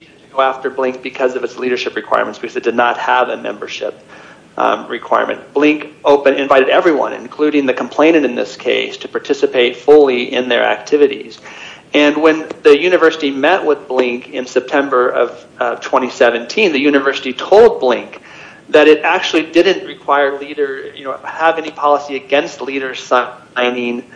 The University of Iowa went after Blink because of its leadership requirements because it did not have a membership requirement. Blink invited everyone, including the complainant in this case, to participate fully in their activities. And when the university met with Blink in September of 2017, the university told Blink that it actually didn't have any policy against leaders signing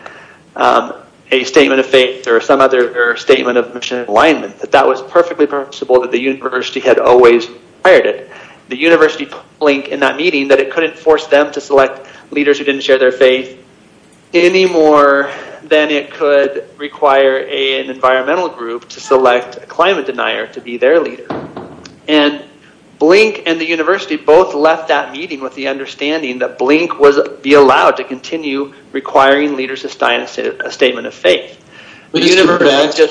a statement of faith or some other statement of mission alignment, that that was perfectly permissible, that the university had always required it. The university told Blink in that meeting that it couldn't force them to select leaders who didn't share their faith any more than it could require an environmental group to select a climate denier to be their leader. And Blink and the university both left that meeting with the understanding that Blink would be allowed to continue requiring leaders to sign a statement of faith. But you never mentioned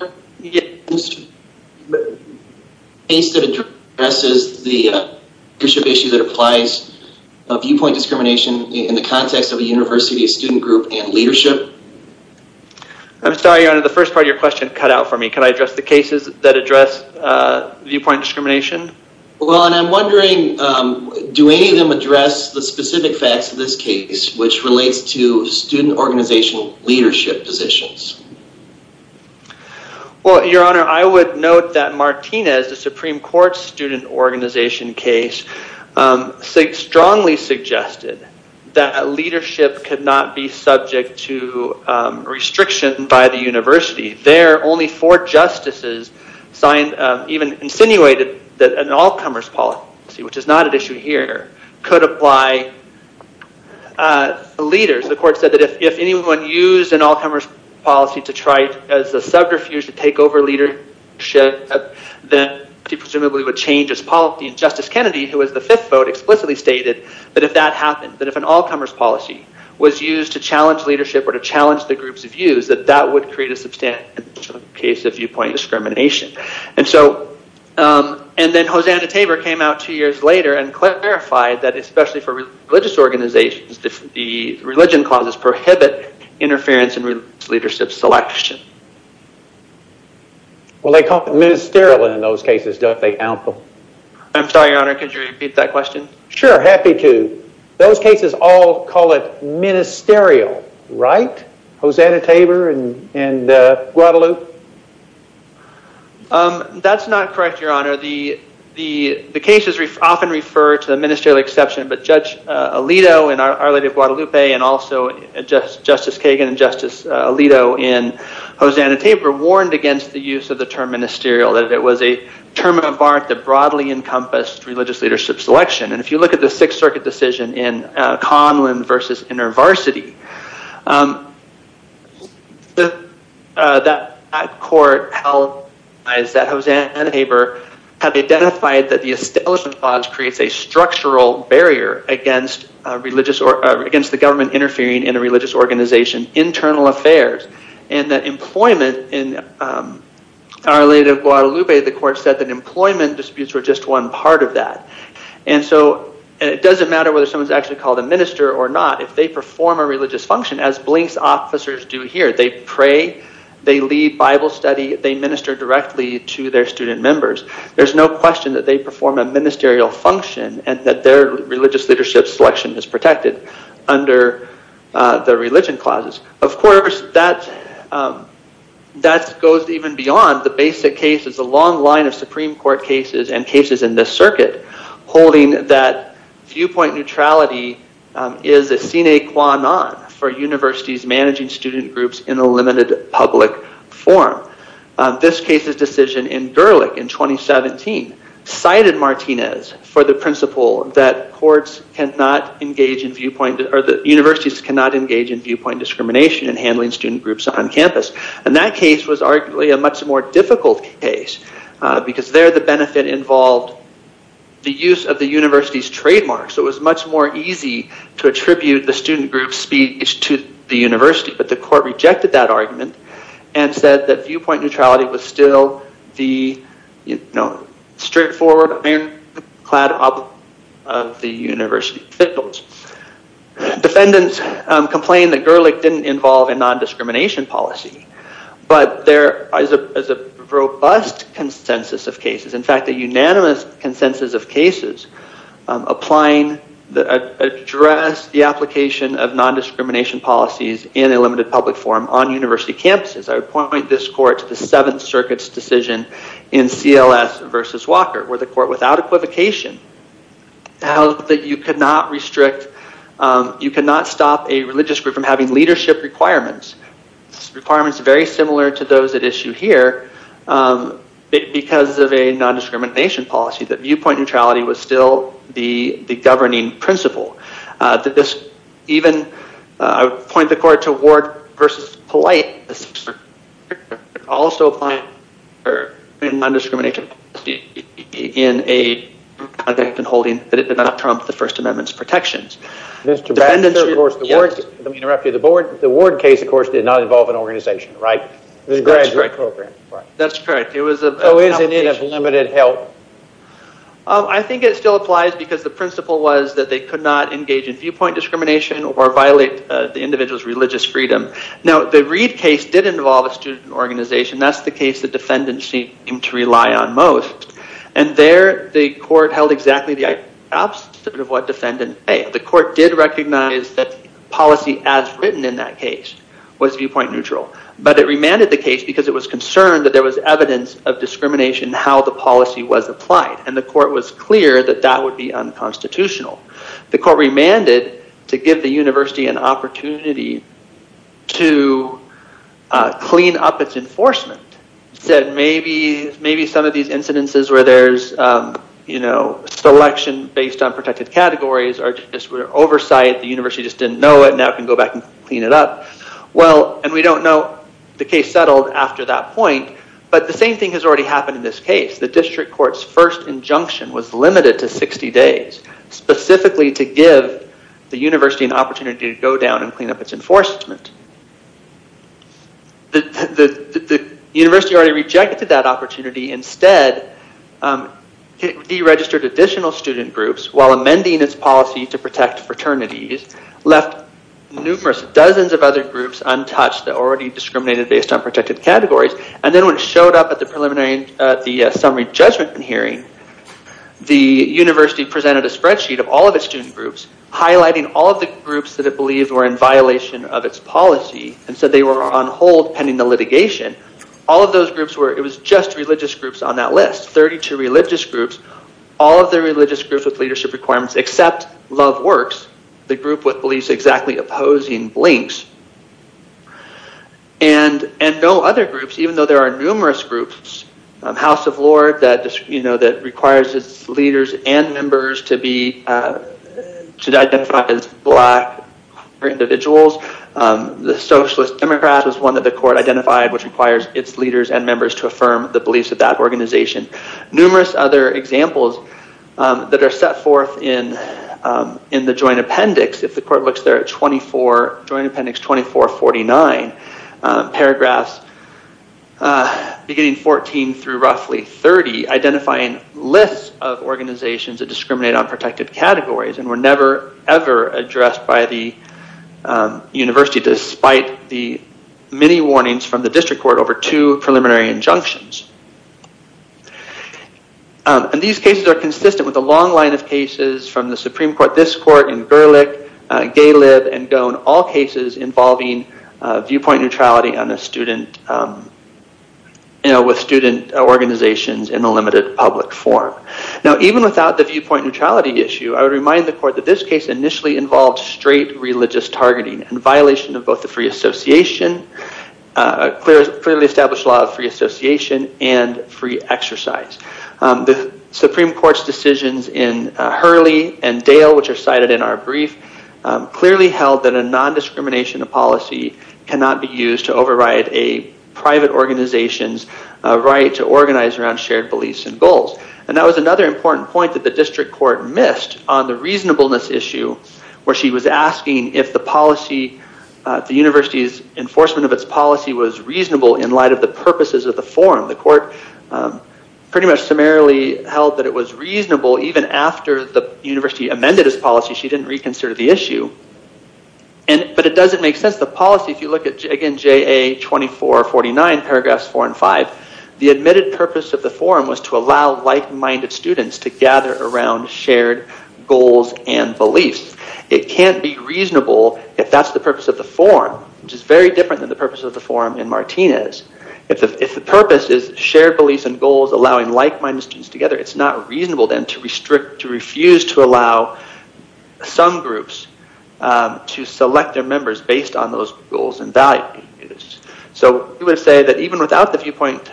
a case that addresses the leadership issue that applies viewpoint discrimination in the context of a university, a student group, and leadership? I'm sorry, your honor, the first part of your question cut out for me. Can I address the cases that address viewpoint discrimination? Well, and I'm wondering, do any of them address the specific facts of this case, which relates to student organizational leadership positions? Well, your honor, I would note that Martinez, the Supreme Court student organization case, strongly suggested that leadership could not be subject to restriction by the university. There, only four justices even insinuated that an all-comers policy, which is not an issue here, could apply to leaders. The court said that if anyone used an all-comers policy to try as a subterfuge to take over leadership, then it presumably would change its policy. Justice Kennedy, who was the fifth vote, explicitly stated that if that happened, that if an all-comers policy was used to challenge leadership or to challenge the group's views, that that would create a substantial case of viewpoint discrimination. And so, and then Hosanna Tabor came out two years later and clarified that especially for religious organizations, the religion clauses prohibit interference in leadership selection. Well, they call it ministerial in those cases, don't they? I'm sorry, your honor, could you repeat that question? Sure, happy to. Those cases all call it ministerial, right? Hosanna Tabor in Guadalupe? That's not correct, your honor. The cases often refer to the ministerial exception, but Judge Alito in Our Lady of Guadalupe and also Justice Kagan and Justice Alito in Hosanna Tabor warned against the use of the term ministerial, that it was a term of art that broadly encompassed religious leadership selection. And if you look at the Sixth Circuit decision in Conlon v. InterVarsity, that court held that Hosanna Tabor had identified that the establishment clause creates a structural barrier against the government interfering in a religious organization's internal affairs and that employment in Our Lady of Guadalupe, the court said that employment disputes were just one part of that. And so it doesn't matter whether someone's actually called a minister or not, if they perform a religious function, as blinks officers do here, they pray, they lead Bible study, they minister directly to their student members, there's no question that they perform a ministerial function and that their religious leadership selection is protected under the religion clauses. Of course, that goes even beyond the basic cases, the long line of Supreme Court cases and cases in this circuit holding that viewpoint neutrality is a sine qua non for universities managing student groups in a limited public forum. This case's decision in Gerlich in 2017 cited Martinez for the principle that courts cannot engage in viewpoint, or that universities cannot engage in viewpoint discrimination in handling student groups on campus. And that case was arguably a much more difficult case because there the benefit involved the use of the university's trademarks. It was much more easy to attribute the student group's speech to the university, but the court rejected that argument and said that viewpoint neutrality was still the straightforward ironclad obligation of the university. Defendants complained that Gerlich didn't involve a nondiscrimination policy, but there is a robust consensus of cases. In fact, a unanimous consensus of cases applying address the application of nondiscrimination policies in a limited public forum on university campuses. I point this court to the Seventh Circuit's decision in CLS versus Walker where the court without equivocation held that you cannot restrict, you cannot stop a religious group from having leadership requirements. Requirements very similar to those at issue here because of a nondiscrimination policy that viewpoint neutrality was still the governing principle. I point the court to Ward versus Polite, also applying nondiscrimination policy in a conduct and holding that it did not trump the First Amendment's protections. Let me interrupt you. The Ward case, of course, did not involve an organization, right? That's correct. So is it in of limited help? I think it still applies because the principle was that they could not engage in viewpoint discrimination or violate the individual's religious freedom. Now, the Reed case did involve a student organization. That's the case that defendants seemed to rely on most. And there, the court held exactly the opposite of what defendants said. The court did recognize that policy as written in that case was viewpoint neutral. But it remanded the case because it was concerned that there was evidence of discrimination in how the policy was applied. And the court was clear that that would be unconstitutional. The court remanded to give the university an opportunity to clean up its enforcement. Said maybe some of these incidences where there's selection based on protected categories or just oversight, the university just didn't know it, now can go back and clean it up. Well, and we don't know the case settled after that point. But the same thing has already happened in this case. The district court's first injunction was limited to 60 days. Specifically to give the university an opportunity to go down and clean up its enforcement. The university already rejected that opportunity. Instead, deregistered additional student groups while amending its policy to protect fraternities. Left numerous dozens of other groups untouched that already discriminated based on protected categories. And then when it showed up at the preliminary summary judgment hearing, the university presented a spreadsheet of all of its student groups. Highlighting all of the groups that it believed were in violation of its policy. And said they were on hold pending the litigation. All of those groups were, it was just religious groups on that list. 32 religious groups. All of the religious groups with leadership requirements except Love Works. The group with beliefs exactly opposing blinks. And no other groups, even though there are numerous groups. House of Lords that requires its leaders and members to identify as black individuals. The Socialist Democrats was one that the court identified which requires its leaders and members to affirm the beliefs of that organization. Numerous other examples that are set forth in the joint appendix. If the court looks there at 24, Joint Appendix 2449. Paragraphs beginning 14 through roughly 30. Identifying lists of organizations that discriminate on protected categories. And were never ever addressed by the university. Despite the many warnings from the district court over two preliminary injunctions. And these cases are consistent with a long line of cases from the Supreme Court. This court in Gerlich, Galib, and Gohn. All cases involving viewpoint neutrality with student organizations in a limited public forum. Now even without the viewpoint neutrality issue. I would remind the court that this case initially involved straight religious targeting. In violation of both the free association. A clearly established law of free association and free exercise. The Supreme Court's decisions in Hurley and Dale which are cited in our brief. Clearly held that a non-discrimination policy cannot be used to override a private organization's right to organize around shared beliefs and goals. And that was another important point that the district court missed on the reasonableness issue. Where she was asking if the university's enforcement of its policy was reasonable in light of the purposes of the forum. The court pretty much summarily held that it was reasonable even after the university amended its policy. She didn't reconsider the issue. But it doesn't make sense. The policy if you look at again JA 2449 paragraphs 4 and 5. The admitted purpose of the forum was to allow like-minded students to gather around shared goals and beliefs. It can't be reasonable if that's the purpose of the forum. Which is very different than the purpose of the forum in Martinez. If the purpose is shared beliefs and goals allowing like-minded students together. It's not reasonable then to refuse to allow some groups to select their members based on those goals and values. So we would say that even without the viewpoint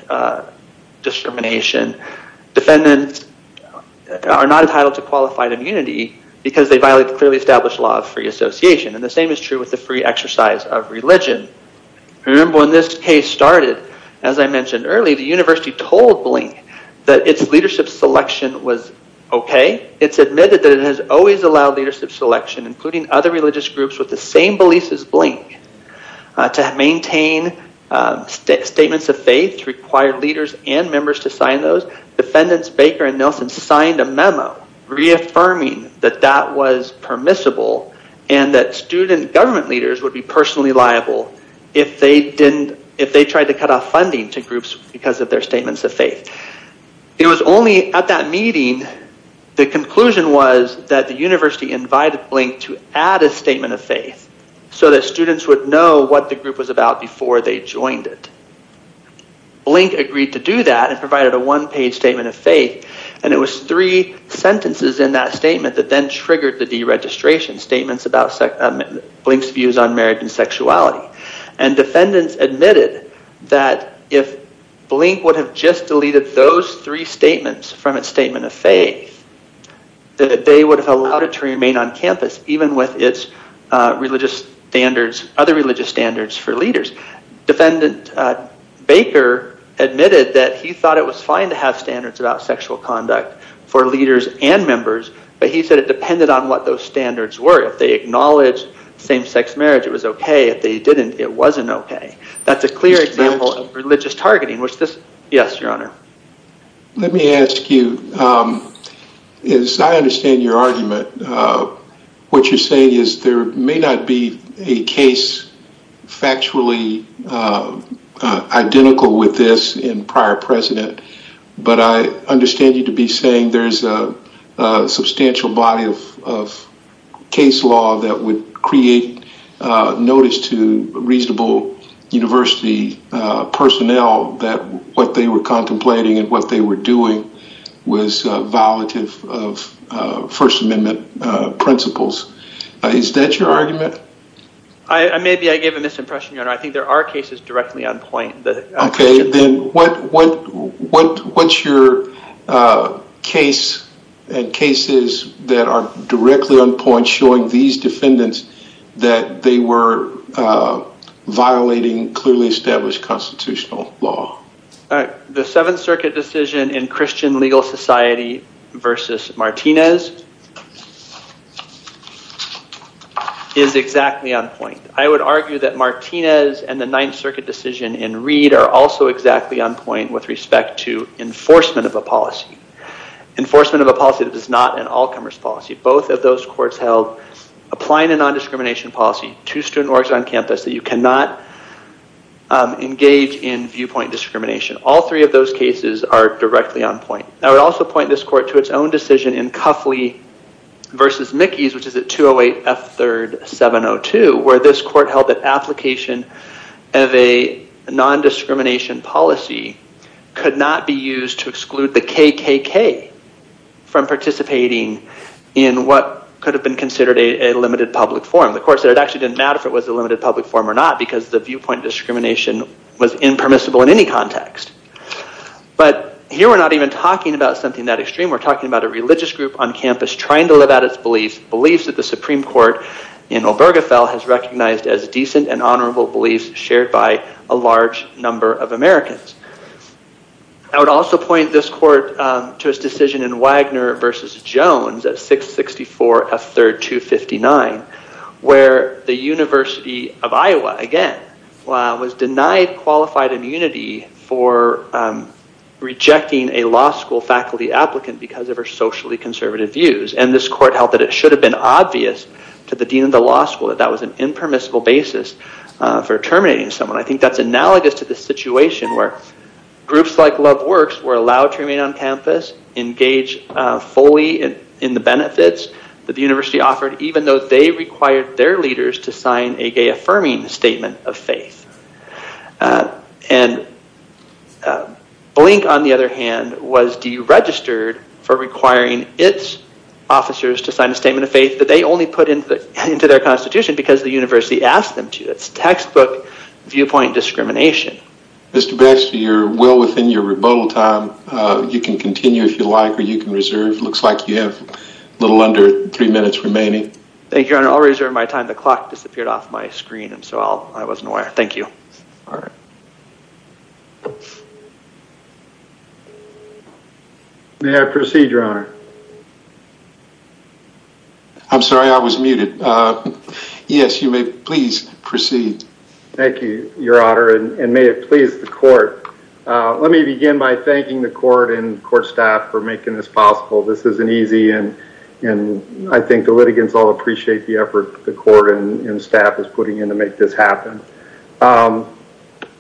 discrimination. Defendants are not entitled to qualified immunity because they violate the clearly established law of free association. And the same is true with the free exercise of religion. Remember when this case started. As I mentioned earlier the university told Blink that its leadership selection was okay. It's admitted that it has always allowed leadership selection including other religious groups with the same beliefs as Blink. To maintain statements of faith required leaders and members to sign those. Defendants Baker and Nelson signed a memo reaffirming that that was permissible. And that student government leaders would be personally liable. If they tried to cut off funding to groups because of their statements of faith. It was only at that meeting the conclusion was that the university invited Blink to add a statement of faith. So that students would know what the group was about before they joined it. Blink agreed to do that and provided a one page statement of faith. And it was three sentences in that statement that then triggered the deregistration statements about Blink's views on marriage and sexuality. And defendants admitted that if Blink would have just deleted those three statements from its statement of faith. That they would have allowed it to remain on campus even with its other religious standards for leaders. Defendant Baker admitted that he thought it was fine to have standards about sexual conduct for leaders and members. But he said it depended on what those standards were. If they acknowledged same sex marriage it was okay. If they didn't it wasn't okay. That's a clear example of religious targeting. Yes your honor. Let me ask you. As I understand your argument. What you're saying is there may not be a case factually identical with this in prior precedent. But I understand you to be saying there's a substantial body of case law that would create notice to reasonable university personnel. That what they were contemplating and what they were doing was violative of first amendment principles. Is that your argument? Maybe I gave a misimpression your honor. I think there are cases directly on point. Okay then what's your case and cases that are directly on point showing these defendants that they were violating clearly established constitutional law. The 7th circuit decision in Christian Legal Society versus Martinez is exactly on point. I would argue that Martinez and the 9th circuit decision in Reed are also exactly on point with respect to enforcement of a policy. Enforcement of a policy that is not an all comers policy. Both of those courts held applying a non-discrimination policy to student orgs on campus that you cannot engage in viewpoint discrimination. All three of those cases are directly on point. I would also point this court to its own decision in Cuffley versus Mickey's which is at 208 F3rd 702 where this court held that application of a non-discrimination policy could not be used to exclude the KKK from participating in what could have been considered a limited public forum. The court said it actually didn't matter if it was a limited public forum or not because the viewpoint discrimination was impermissible in any context. But here we're not even talking about something that extreme. We're talking about a religious group on campus trying to live out its beliefs. Beliefs that the Supreme Court in Obergefell has recognized as decent and honorable beliefs shared by a large number of Americans. I would also point this court to its decision in Wagner versus Jones at 664 F3rd 259 where the University of Iowa, again, was denied qualified immunity for rejecting a law school faculty applicant because of her socially conservative views. And this court held that it should have been obvious to the dean of the law school that that was an impermissible basis for terminating someone. I think that's analogous to the situation where groups like Love Works were allowed to remain on campus, engage fully in the benefits that the university offered even though they required their leaders to sign a gay affirming statement of faith. Blink, on the other hand, was deregistered for requiring its officers to sign a statement of faith that they only put into their constitution because the university asked them to. It's textbook viewpoint discrimination. Mr. Baxter, you're well within your rebuttal time. You can continue if you like or you can reserve. Looks like you have a little under three minutes remaining. Thank you, Your Honor. I'll reserve my time. The clock disappeared off my screen and so I wasn't aware. Thank you. May I proceed, Your Honor? I'm sorry, I was muted. Yes, you may please proceed. Thank you, Your Honor, and may it please the court. Let me begin by thanking the court and court staff for making this possible. This isn't easy and I think the litigants all appreciate the effort the court and staff is putting in to make this happen.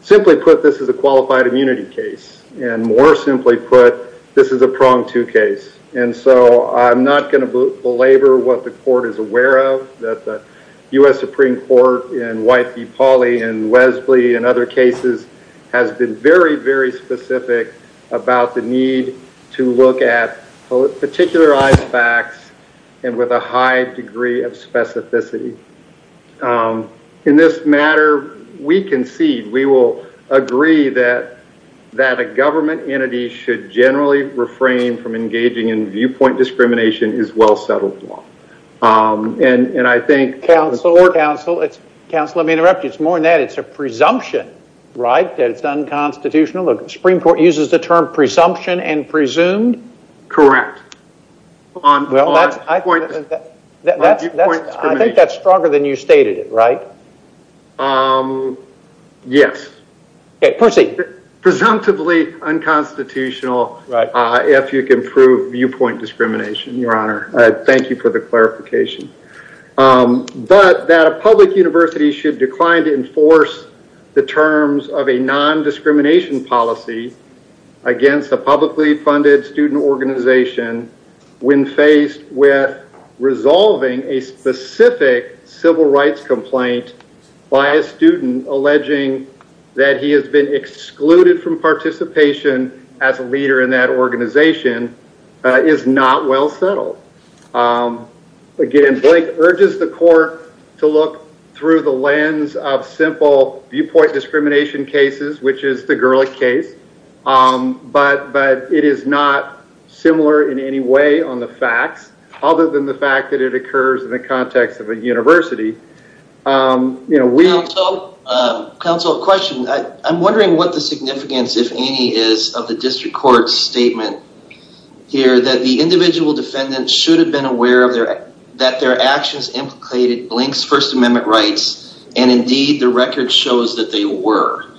Simply put, this is a qualified immunity case. And more simply put, this is a pronged-to case. And so I'm not going to belabor what the court is aware of, that the U.S. Supreme Court in White v. Pauli and Wesley and other cases has been very, very specific about the need to look at particularized facts and with a high degree of specificity. In this matter, we concede, we will agree that a government entity should generally refrain from engaging in viewpoint discrimination is well settled law. And I think... Counsel, counsel, counsel, let me interrupt you. It's more than that, it's a presumption, right? That it's unconstitutional? The Supreme Court uses the term presumption and presumed? Correct. Well, that's... I think that's stronger than you stated it, right? Yes. Okay, proceed. Presumptively unconstitutional if you can prove viewpoint discrimination, Your Honor. Thank you for the clarification. But that a public university should decline to enforce the terms of a non-discrimination policy against a publicly funded student organization when faced with resolving a specific civil rights complaint by a student alleging that he has been excluded from participation as a leader in that organization is not well settled. Again, Blake urges the court to look through the lens of simple viewpoint discrimination cases which is the Gerlich case. But it is not similar in any way on the facts other than the fact that it occurs in the context of a university. You know, we... Counsel, question. I'm wondering what the significance, if any, is of the district court's statement here that the individual defendant should have been aware that their actions implicated Blake's First Amendment rights and indeed the record shows that they were.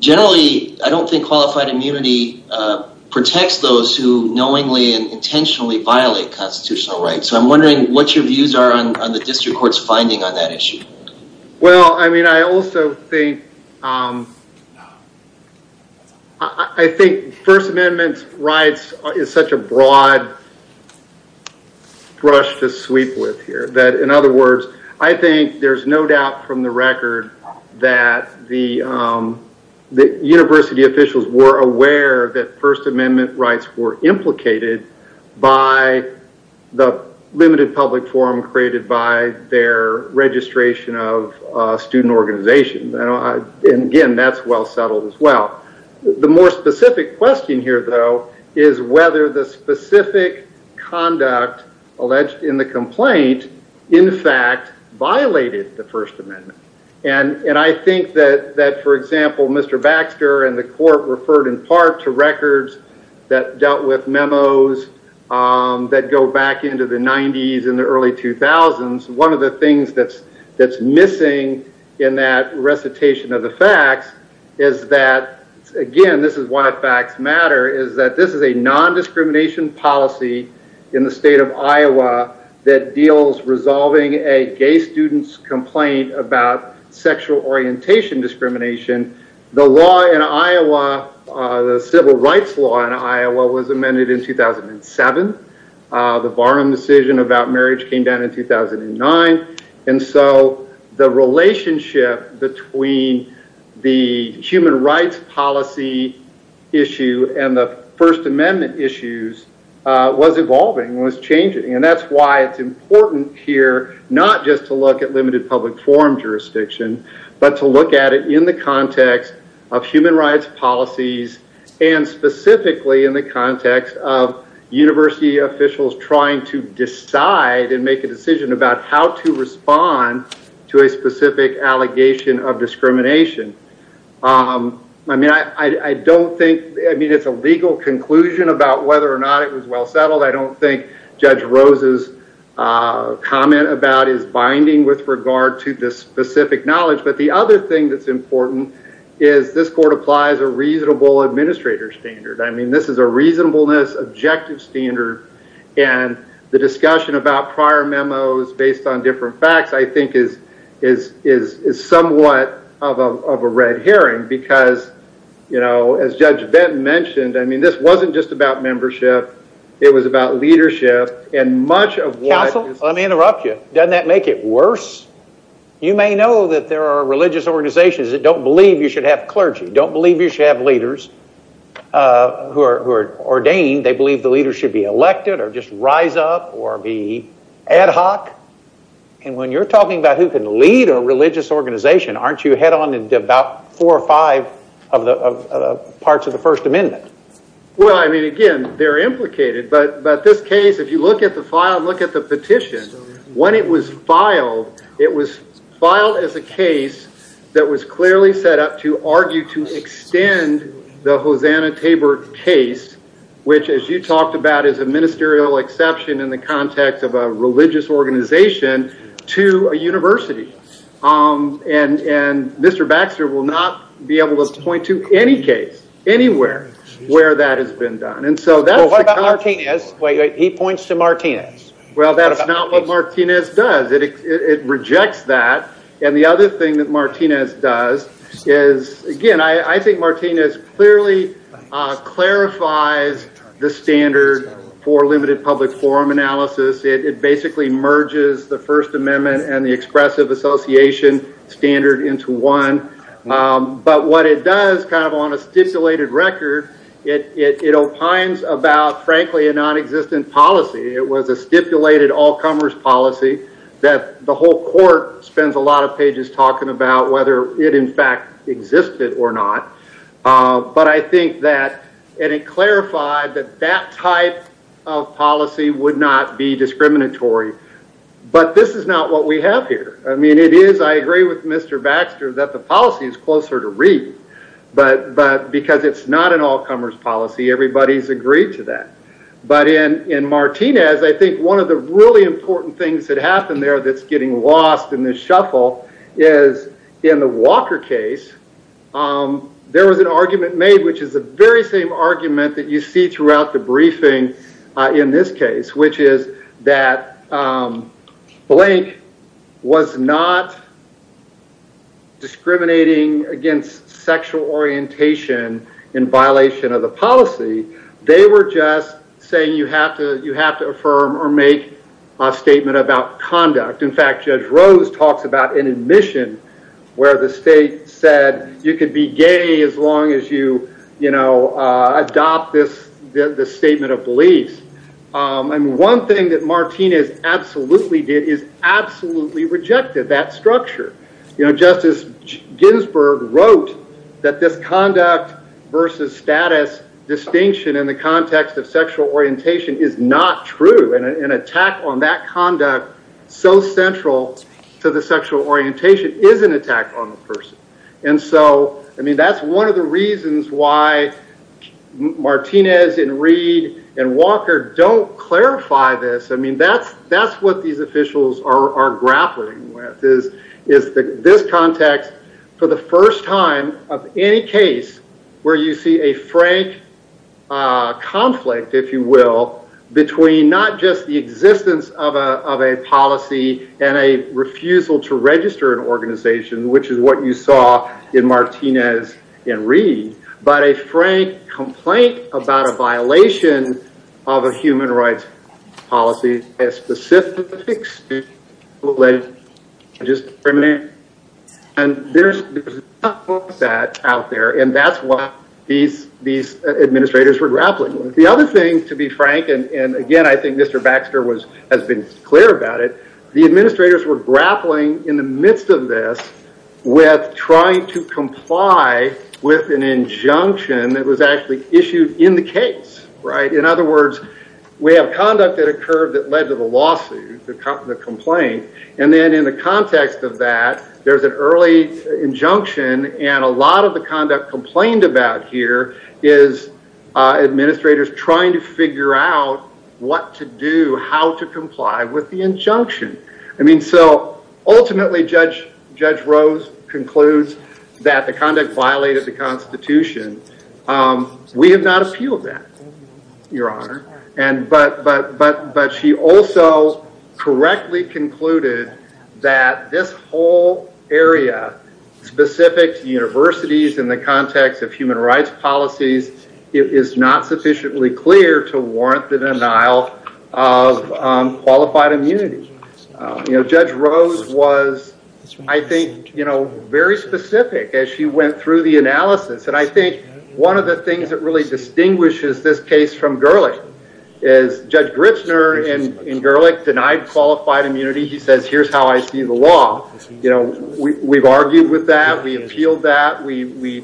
Generally, I don't think qualified immunity protects those who knowingly and intentionally violate constitutional rights. So I'm wondering what your views are on the district court's finding on that issue. Well, I mean, I also think I think First Amendment rights is such a broad brush to sweep with here that, in other words, I think there's no doubt from the record that the university officials were aware that First Amendment rights were implicated by the limited public forum created by their registration of student organizations. And again, that's well settled as well. The more specific question here, though, is whether the specific conduct alleged in the complaint in fact violated the First Amendment. And I think that, for example, Mr. Baxter and the court referred in part to records that dealt with memos that go back into the 90s and the early 2000s. One of the things that's missing in that recitation of the facts is that again, this is why facts matter is that this is a non-discrimination policy in the state of Iowa that deals resolving a gay student's complaint about sexual orientation discrimination. The law in Iowa the civil rights law in Iowa was amended in 2007 the Varnum decision about marriage came down in 2009 and so the relationship between the human rights policy issue and the First Amendment issues was evolving, was changing and that's why it's important here not just to look at limited public forum jurisdiction but to look at it in the context of human rights policies and specifically in the context of university officials trying to decide and make a decision about how to respond to a specific allegation of discrimination I mean I don't think it's a legal conclusion about whether or not it was well settled. I don't think Judge Rose's comment about his binding with regard to this specific knowledge but the other thing that's important is this court applies a reasonable administrator standard. I mean this is a reasonableness objective standard and the discussion about prior memos based on different facts I think is somewhat of a red herring because you know as Judge Benton mentioned I mean this wasn't just about membership it was about leadership and much of what- Counsel, let me interrupt you. Doesn't that make it worse? You may know that there are religious organizations that don't believe you should have clergy don't believe you should have leaders who are ordained they believe the leader should be elected or just rise up or be ad hoc and when you're talking about who can lead a religious organization aren't you head on into about four or five of the parts of the first amendment? Well I mean again they're implicated but this case if you look at the file look at the petition when it was filed it was filed as a case that was clearly set up to argue to extend the Hosanna Tabor case which as you talked about is a ministerial exception in the context of a religious organization to a university and Mr. Baxter will not be able to point to any case anywhere where that has been done What about Martinez? He points to Martinez. Well that's not what it rejects that and the other thing that Martinez does is again I think Martinez clearly clarifies the standard for limited public forum analysis it basically merges the first amendment and the expressive association standard into one but what it does kind of on a stipulated record it opines about frankly a non-existent policy it was a stipulated all the whole court spends a lot of pages talking about whether it in fact existed or not but I think that it clarified that that type of policy would not be discriminatory but this is not what we have here I agree with Mr. Baxter that the policy is closer to reading but because it's not an all comers policy everybody's agreed to that but in Martinez I think one of the really important things that happened there that's getting lost in this shuffle is in the Walker case there was an argument made which is the very same argument that you see throughout the briefing in this case which is that Blank was not discriminating against sexual orientation in violation of the policy they were just saying you have to affirm or make a statement about conduct in fact Judge Rose talks about an admission where the state said you could be gay as long as you adopt this statement of beliefs one thing that Martinez absolutely did is absolutely rejected that structure Justice Ginsberg wrote that this conduct versus status distinction in the context of sexual orientation is not true and an attack on that conduct so central to the sexual orientation is an attack on the person and so I mean that's one of the reasons why Martinez and Reed and Walker don't clarify this I mean that's what these officials are grappling with is this context for the first time of any case where you see a frank conflict if you will between not just the existence of a policy and a refusal to register an organization which is what you saw in Martinez and Reed but a frank complaint about a violation of a human rights policy and there's that out there and that's what these administrators were grappling with the other thing to be frank and again I think Mr. Baxter has been clear about it the administrators were grappling in the midst of this with trying to comply with an injunction that was actually issued in the case right in other words we have conduct that occurred that led to the lawsuit the complaint and then in the context of that there's an early injunction and a lot of the conduct complained about here is administrators trying to figure out what to do how to comply with the injunction I mean so ultimately Judge Rose concludes that the conduct violated the constitution we have not appealed that your honor but she also correctly concluded that this whole area specific to universities in the context of human rights policies is not sufficiently clear to warrant the denial of qualified immunity Judge Rose was I think very specific as she went through the analysis and I think one of the things that really distinguishes this case from Gerlich is Judge Grichner in Gerlich denied qualified immunity here's how I see the law we've argued with that we appealed that we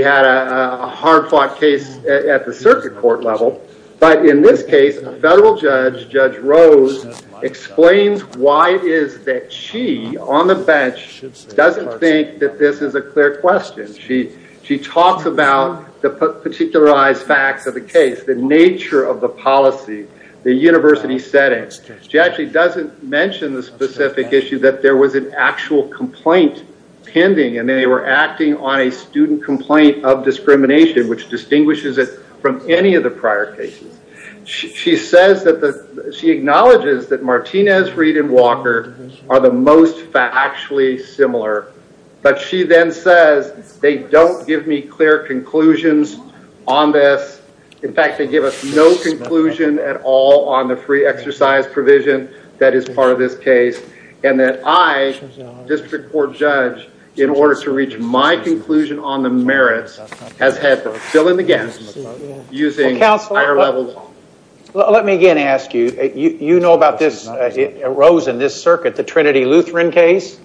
had a hard fought case at the circuit court level but in this case a federal judge Judge Rose explains why it is that she on the bench doesn't think that this is a clear question she talks about the particularized facts of the case the nature of the policy the university setting she actually doesn't mention the specific issue that there was an actual complaint pending and they were acting on a student complaint of discrimination which distinguishes it from any of the prior cases she says that she acknowledges that Martinez Reed and Walker are the most factually similar but she then says they don't give me clear conclusions on this in fact they give us no conclusion at all on the free exercise provision that is part of this case and that I district court judge in order to reach my conclusion on the merits has had to fill in the gaps using higher levels of law. Let me again ask you, you know about this Rose and this circuit the Trinity Lutheran case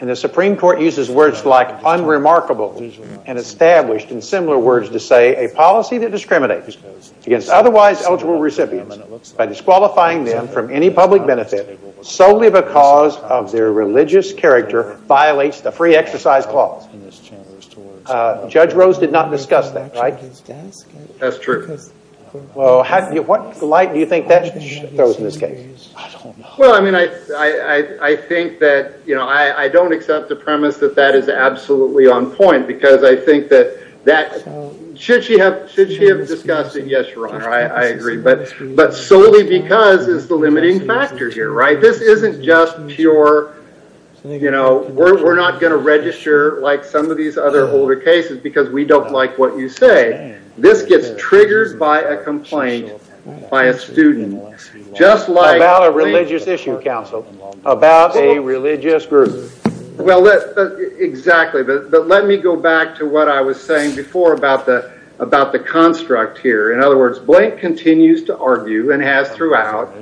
and the Supreme Court uses words like unremarkable and established in similar words to say a policy that discriminates against otherwise eligible recipients by disqualifying them from any public benefit solely because of their religious character violates the free exercise clause. Judge Rose did not discuss that right? That's true. What light do you think that throws in this case? Well I mean I think that you know I don't accept the premise that that is absolutely on point because I think that should she have discussed it yes your honor I agree but solely because it's the limiting factor here right? This isn't just pure you know we're not going to register like some of these other older cases because we don't like what you say. This gets triggered by a complaint by a student just like... About a religious issue counsel about a religious group. Well exactly but let me go back to what I was saying before about the construct here in other words Blank continues to argue and has throughout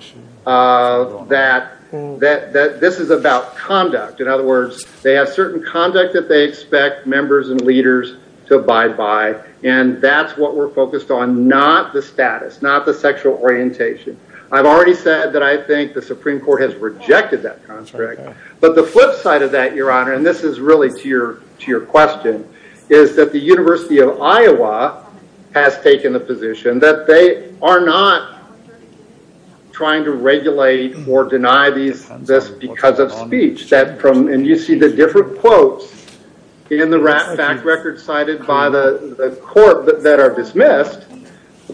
that this is about conduct in other words they have certain conduct that they expect members and leaders to abide by and that's what we're focused on not the status not the sexual orientation I've already said that I think the Supreme Court has rejected that construct but the flip side of that your honor and this is really to your question is that the University of Iowa has taken the position that they are not trying to regulate or deny this because of speech and you see the different quotes in the fact record cited by the court that are dismissed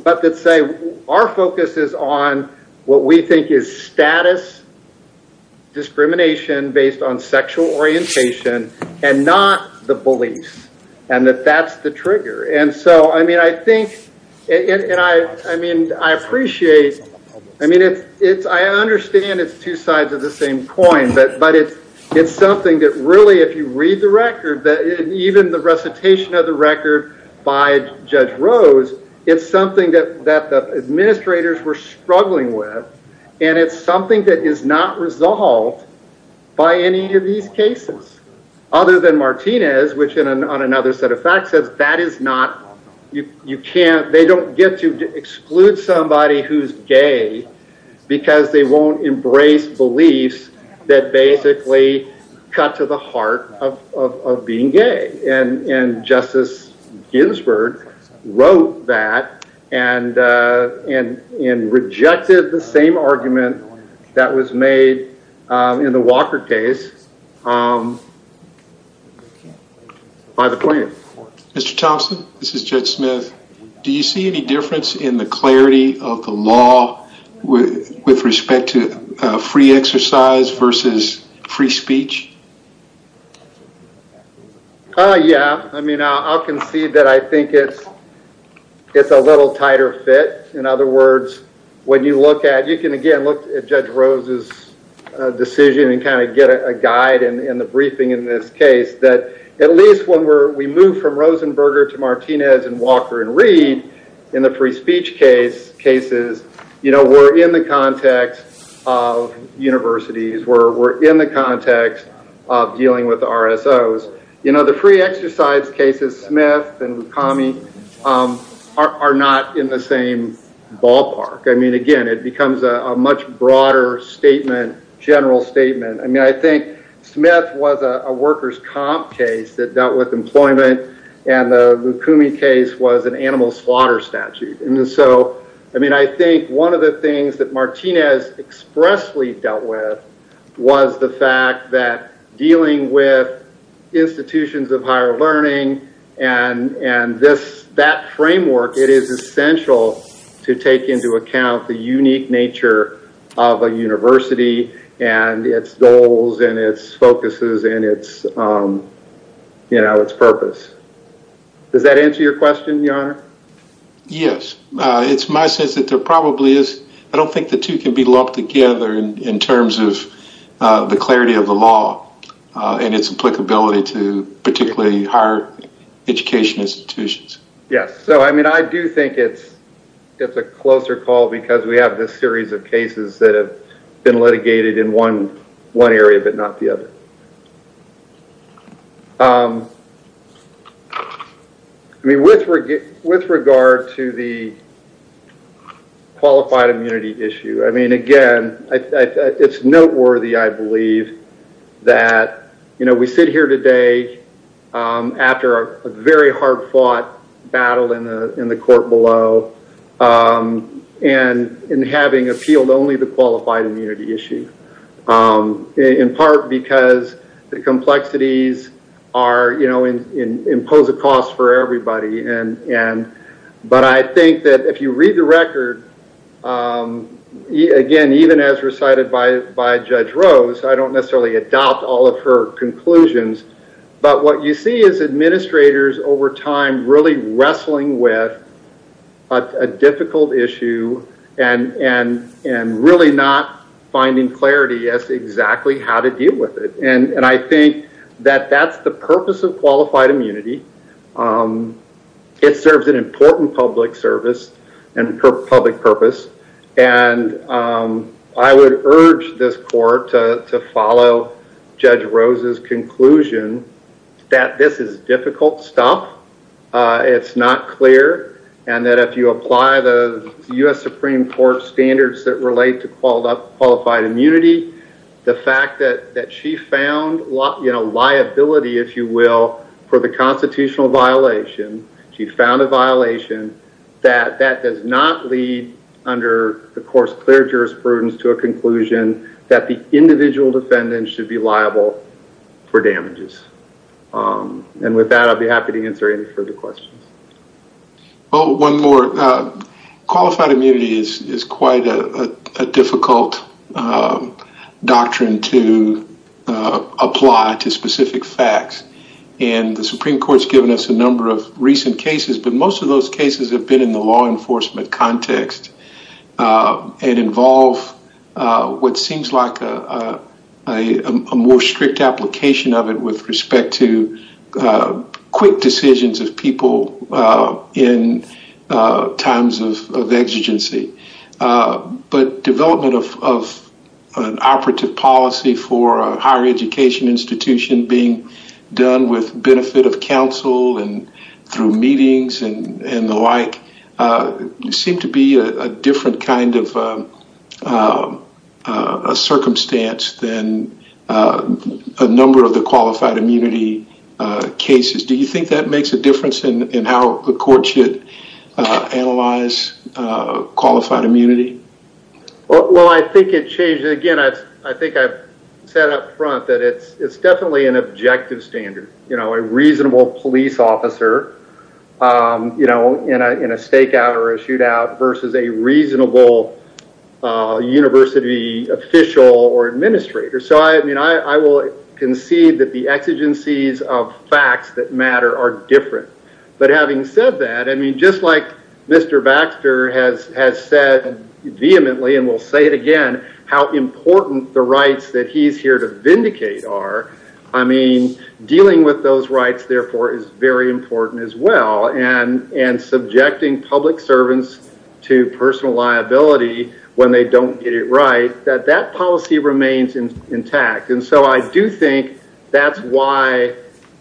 but that say our focus is on what we think is status discrimination based on sexual orientation and not the beliefs and that that's the trigger and so I mean I think and I mean I appreciate I mean it's I understand it's two sides of the same coin but it's something that really if you read the record that even the recitation of the record by Judge Rose it's something that the administrators were struggling with and it's something that is not resolved by any of these cases other than Martinez which on another set of facts says that is not you can't they don't get to exclude somebody who's gay because they won't embrace beliefs that basically cut to the heart of being gay and Justice Ginsburg wrote that and rejected the same argument that was made in the Walker case by the plaintiff. Mr. Thompson, this is Judge Smith. Do you see any difference in the clarity of the law with respect to free exercise versus free speech? Yeah, I mean I'll concede that I think it's a little tighter fit. In other words when you look at you can again look at Judge Rose's decision and kind of get a guide in the briefing in this case that at least when we move from Rosenberger to Martinez and Walker and Reed in the free speech cases we're in the context of universities. We're in the context of dealing with the RSOs. You know the free exercise cases, Smith and Walker are not in the same ballpark. I mean again it becomes a much broader statement general statement. I mean I think Smith was a workers comp case that dealt with employment and the Lucumi case was an animal slaughter statute and so I mean I think one of the things that Martinez expressly dealt with was the fact that dealing with institutions of higher learning and that framework it is essential to take into account the unique nature of a university and it's goals and it's focuses and it's purpose. Does that answer your question your honor? Yes. It's my sense that there probably is. I don't think the two can be lumped together in terms of the clarity of the law and it's applicability to particularly higher education institutions. Yes. So I mean I do think it's a closer call because we have this series of cases that have been litigated in one area but not the other. I mean with regard to the qualified immunity issue. I mean again it's noteworthy I believe that you know we sit here today after a very hard fought battle in the court below and in having appealed only the qualified immunity issue in part because the complexities are you know impose a cost for everybody and but I think that if you read the record again even as recited by Judge Rose I don't necessarily adopt all of her conclusions but what you see is administrators over time really wrestling with a difficult issue and really not finding clarity as to exactly how to deal with it. And I think that that's the purpose of qualified immunity. It serves an important public service and public purpose and I would urge this court to follow Judge Rose's conclusion that this is difficult stuff. It's not clear and that if you apply the U.S. Supreme Court standards that relate to qualified immunity the fact that she found liability if you will for the constitutional violation she found a violation that that does not lead under the court's clear jurisprudence to a conclusion that the individual defendant should be liable for damages. And with that I'll be happy to answer any further questions. One more. Qualified immunity is quite a difficult doctrine to apply to specific facts and the Supreme Court has given us a number of recent cases but most of those cases have been in the law enforcement context and involve what seems like a more strict application of it with respect to quick decisions of people in times of exigency. But development of an operative policy for a higher education institution being done with benefit of families and the like seem to be a different kind of circumstance than a number of the qualified immunity cases. Do you think that makes a difference in how the court should analyze qualified immunity? Well I think it changes. Again I think I've said up front that it's definitely an objective standard. You know a reasonable police officer you know in a stakeout or a shootout versus a reasonable university official or administrator. So I mean I will concede that the exigencies of facts that matter are different. But having said that I mean just like Mr. Baxter has said vehemently and will say it again how important the rights that he's here to vindicate are. I mean dealing with those rights therefore is very important as well. And subjecting public servants to personal liability when they don't get it right that that policy remains intact. And so I do think that's why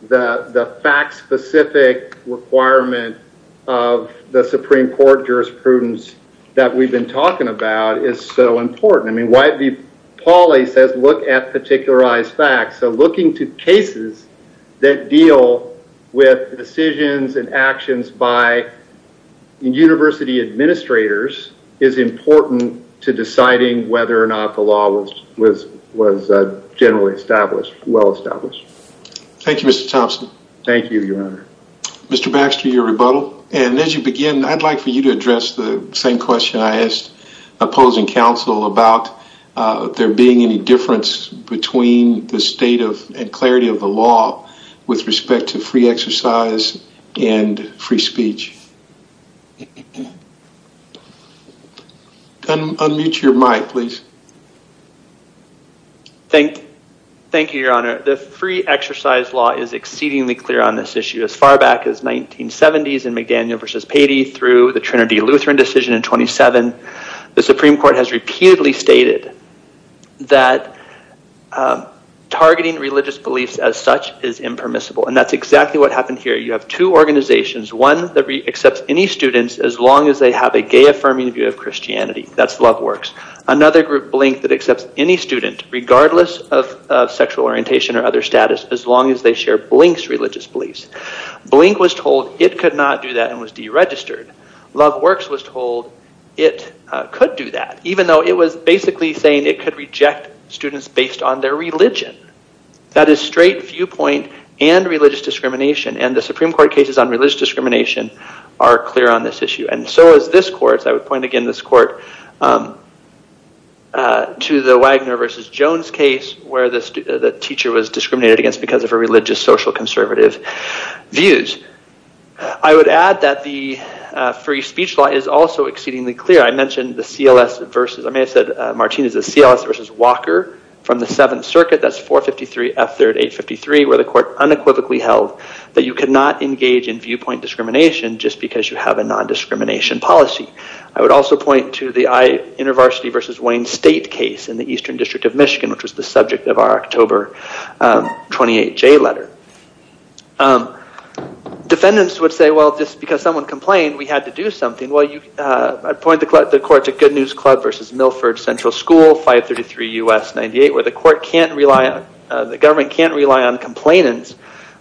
the fact specific requirement of the Supreme Court jurisprudence that we've been talking about is so important. I mean why Pauli says look at particularized facts. So looking to cases that deal with decisions and actions by university administrators is important to deciding whether or not the law was generally established, well established. Thank you Mr. Thompson. Thank you your honor. Mr. Baxter your rebuttal and as you begin I'd like for you to address the same question I asked opposing council about there being any difference between the state of and clarity of the law with respect to free exercise and free speech. Unmute your mic please. Thank you your honor. The free exercise law is exceedingly clear on this issue as far back as 1970s and McDaniel versus Patey through the Trinity Lutheran decision in 27. The Supreme Court has determined that targeting religious beliefs as such is impermissible and that's exactly what happened here. You have two organizations one that accepts any students as long as they have a gay affirming view of Christianity. That's Love Works. Another group Blink that accepts any student regardless of sexual orientation or other status as long as they share Blink's religious beliefs. Blink was told it could not do that and was deregistered. Love Works was told it could do that even though it was basically saying it could reject students based on their religion. That is straight viewpoint and religious discrimination and the Supreme Court cases on religious discrimination are clear on this issue and so is this court, I would point again this court to the Wagner versus Jones case where the teacher was discriminated against because of her religious social conservative views. I would add that the free speech law is also exceedingly clear. I mentioned the CLS versus Walker from the 7th circuit that's 453 F3rd 853 where the court unequivocally held that you could not engage in viewpoint discrimination just because you have a non-discrimination policy. I would also point to the InterVarsity versus Wayne State case in the Eastern District of Michigan which was the subject of our October 28 J letter. Defendants would say well just because someone complained we had to do something. I would point the court to Good News Club versus Milford Central School 533 U.S. 98 where the court can't rely on, the government can't rely on complainants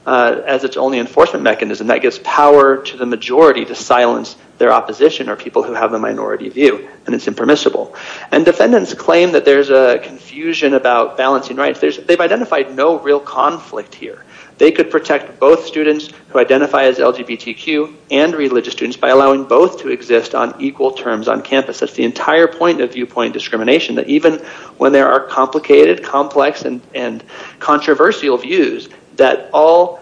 as it's only enforcement mechanism that gives power to the majority to silence their opposition or people who have a minority view and it's impermissible. Defendants claim that there's a confusion about balancing rights. They've identified no real conflict here. They could protect both students who identify as LGBTQ and religious students by allowing both to exist on equal terms on campus. That's the entire point of viewpoint discrimination that even when there are complicated, complex and controversial views that all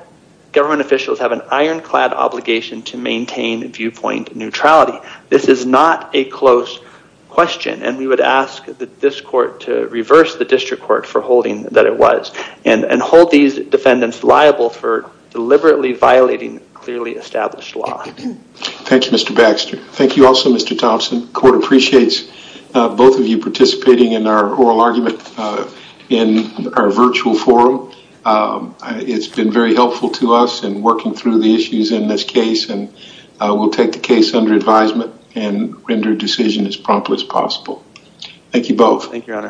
government officials have an ironclad obligation to maintain viewpoint neutrality. This is not a close question and we would ask this court to reverse the district court for holding that it was and hold these defendants liable for deliberately violating clearly established law. Thanks Mr. Baxter. Thank you also Mr. Thompson. Court appreciates both of you participating in our oral argument in our virtual forum. It's been very helpful to us in working through the issues in this case and we'll take the case under advisement and render a decision as promptly as possible. Thank you both. Thank you your honor.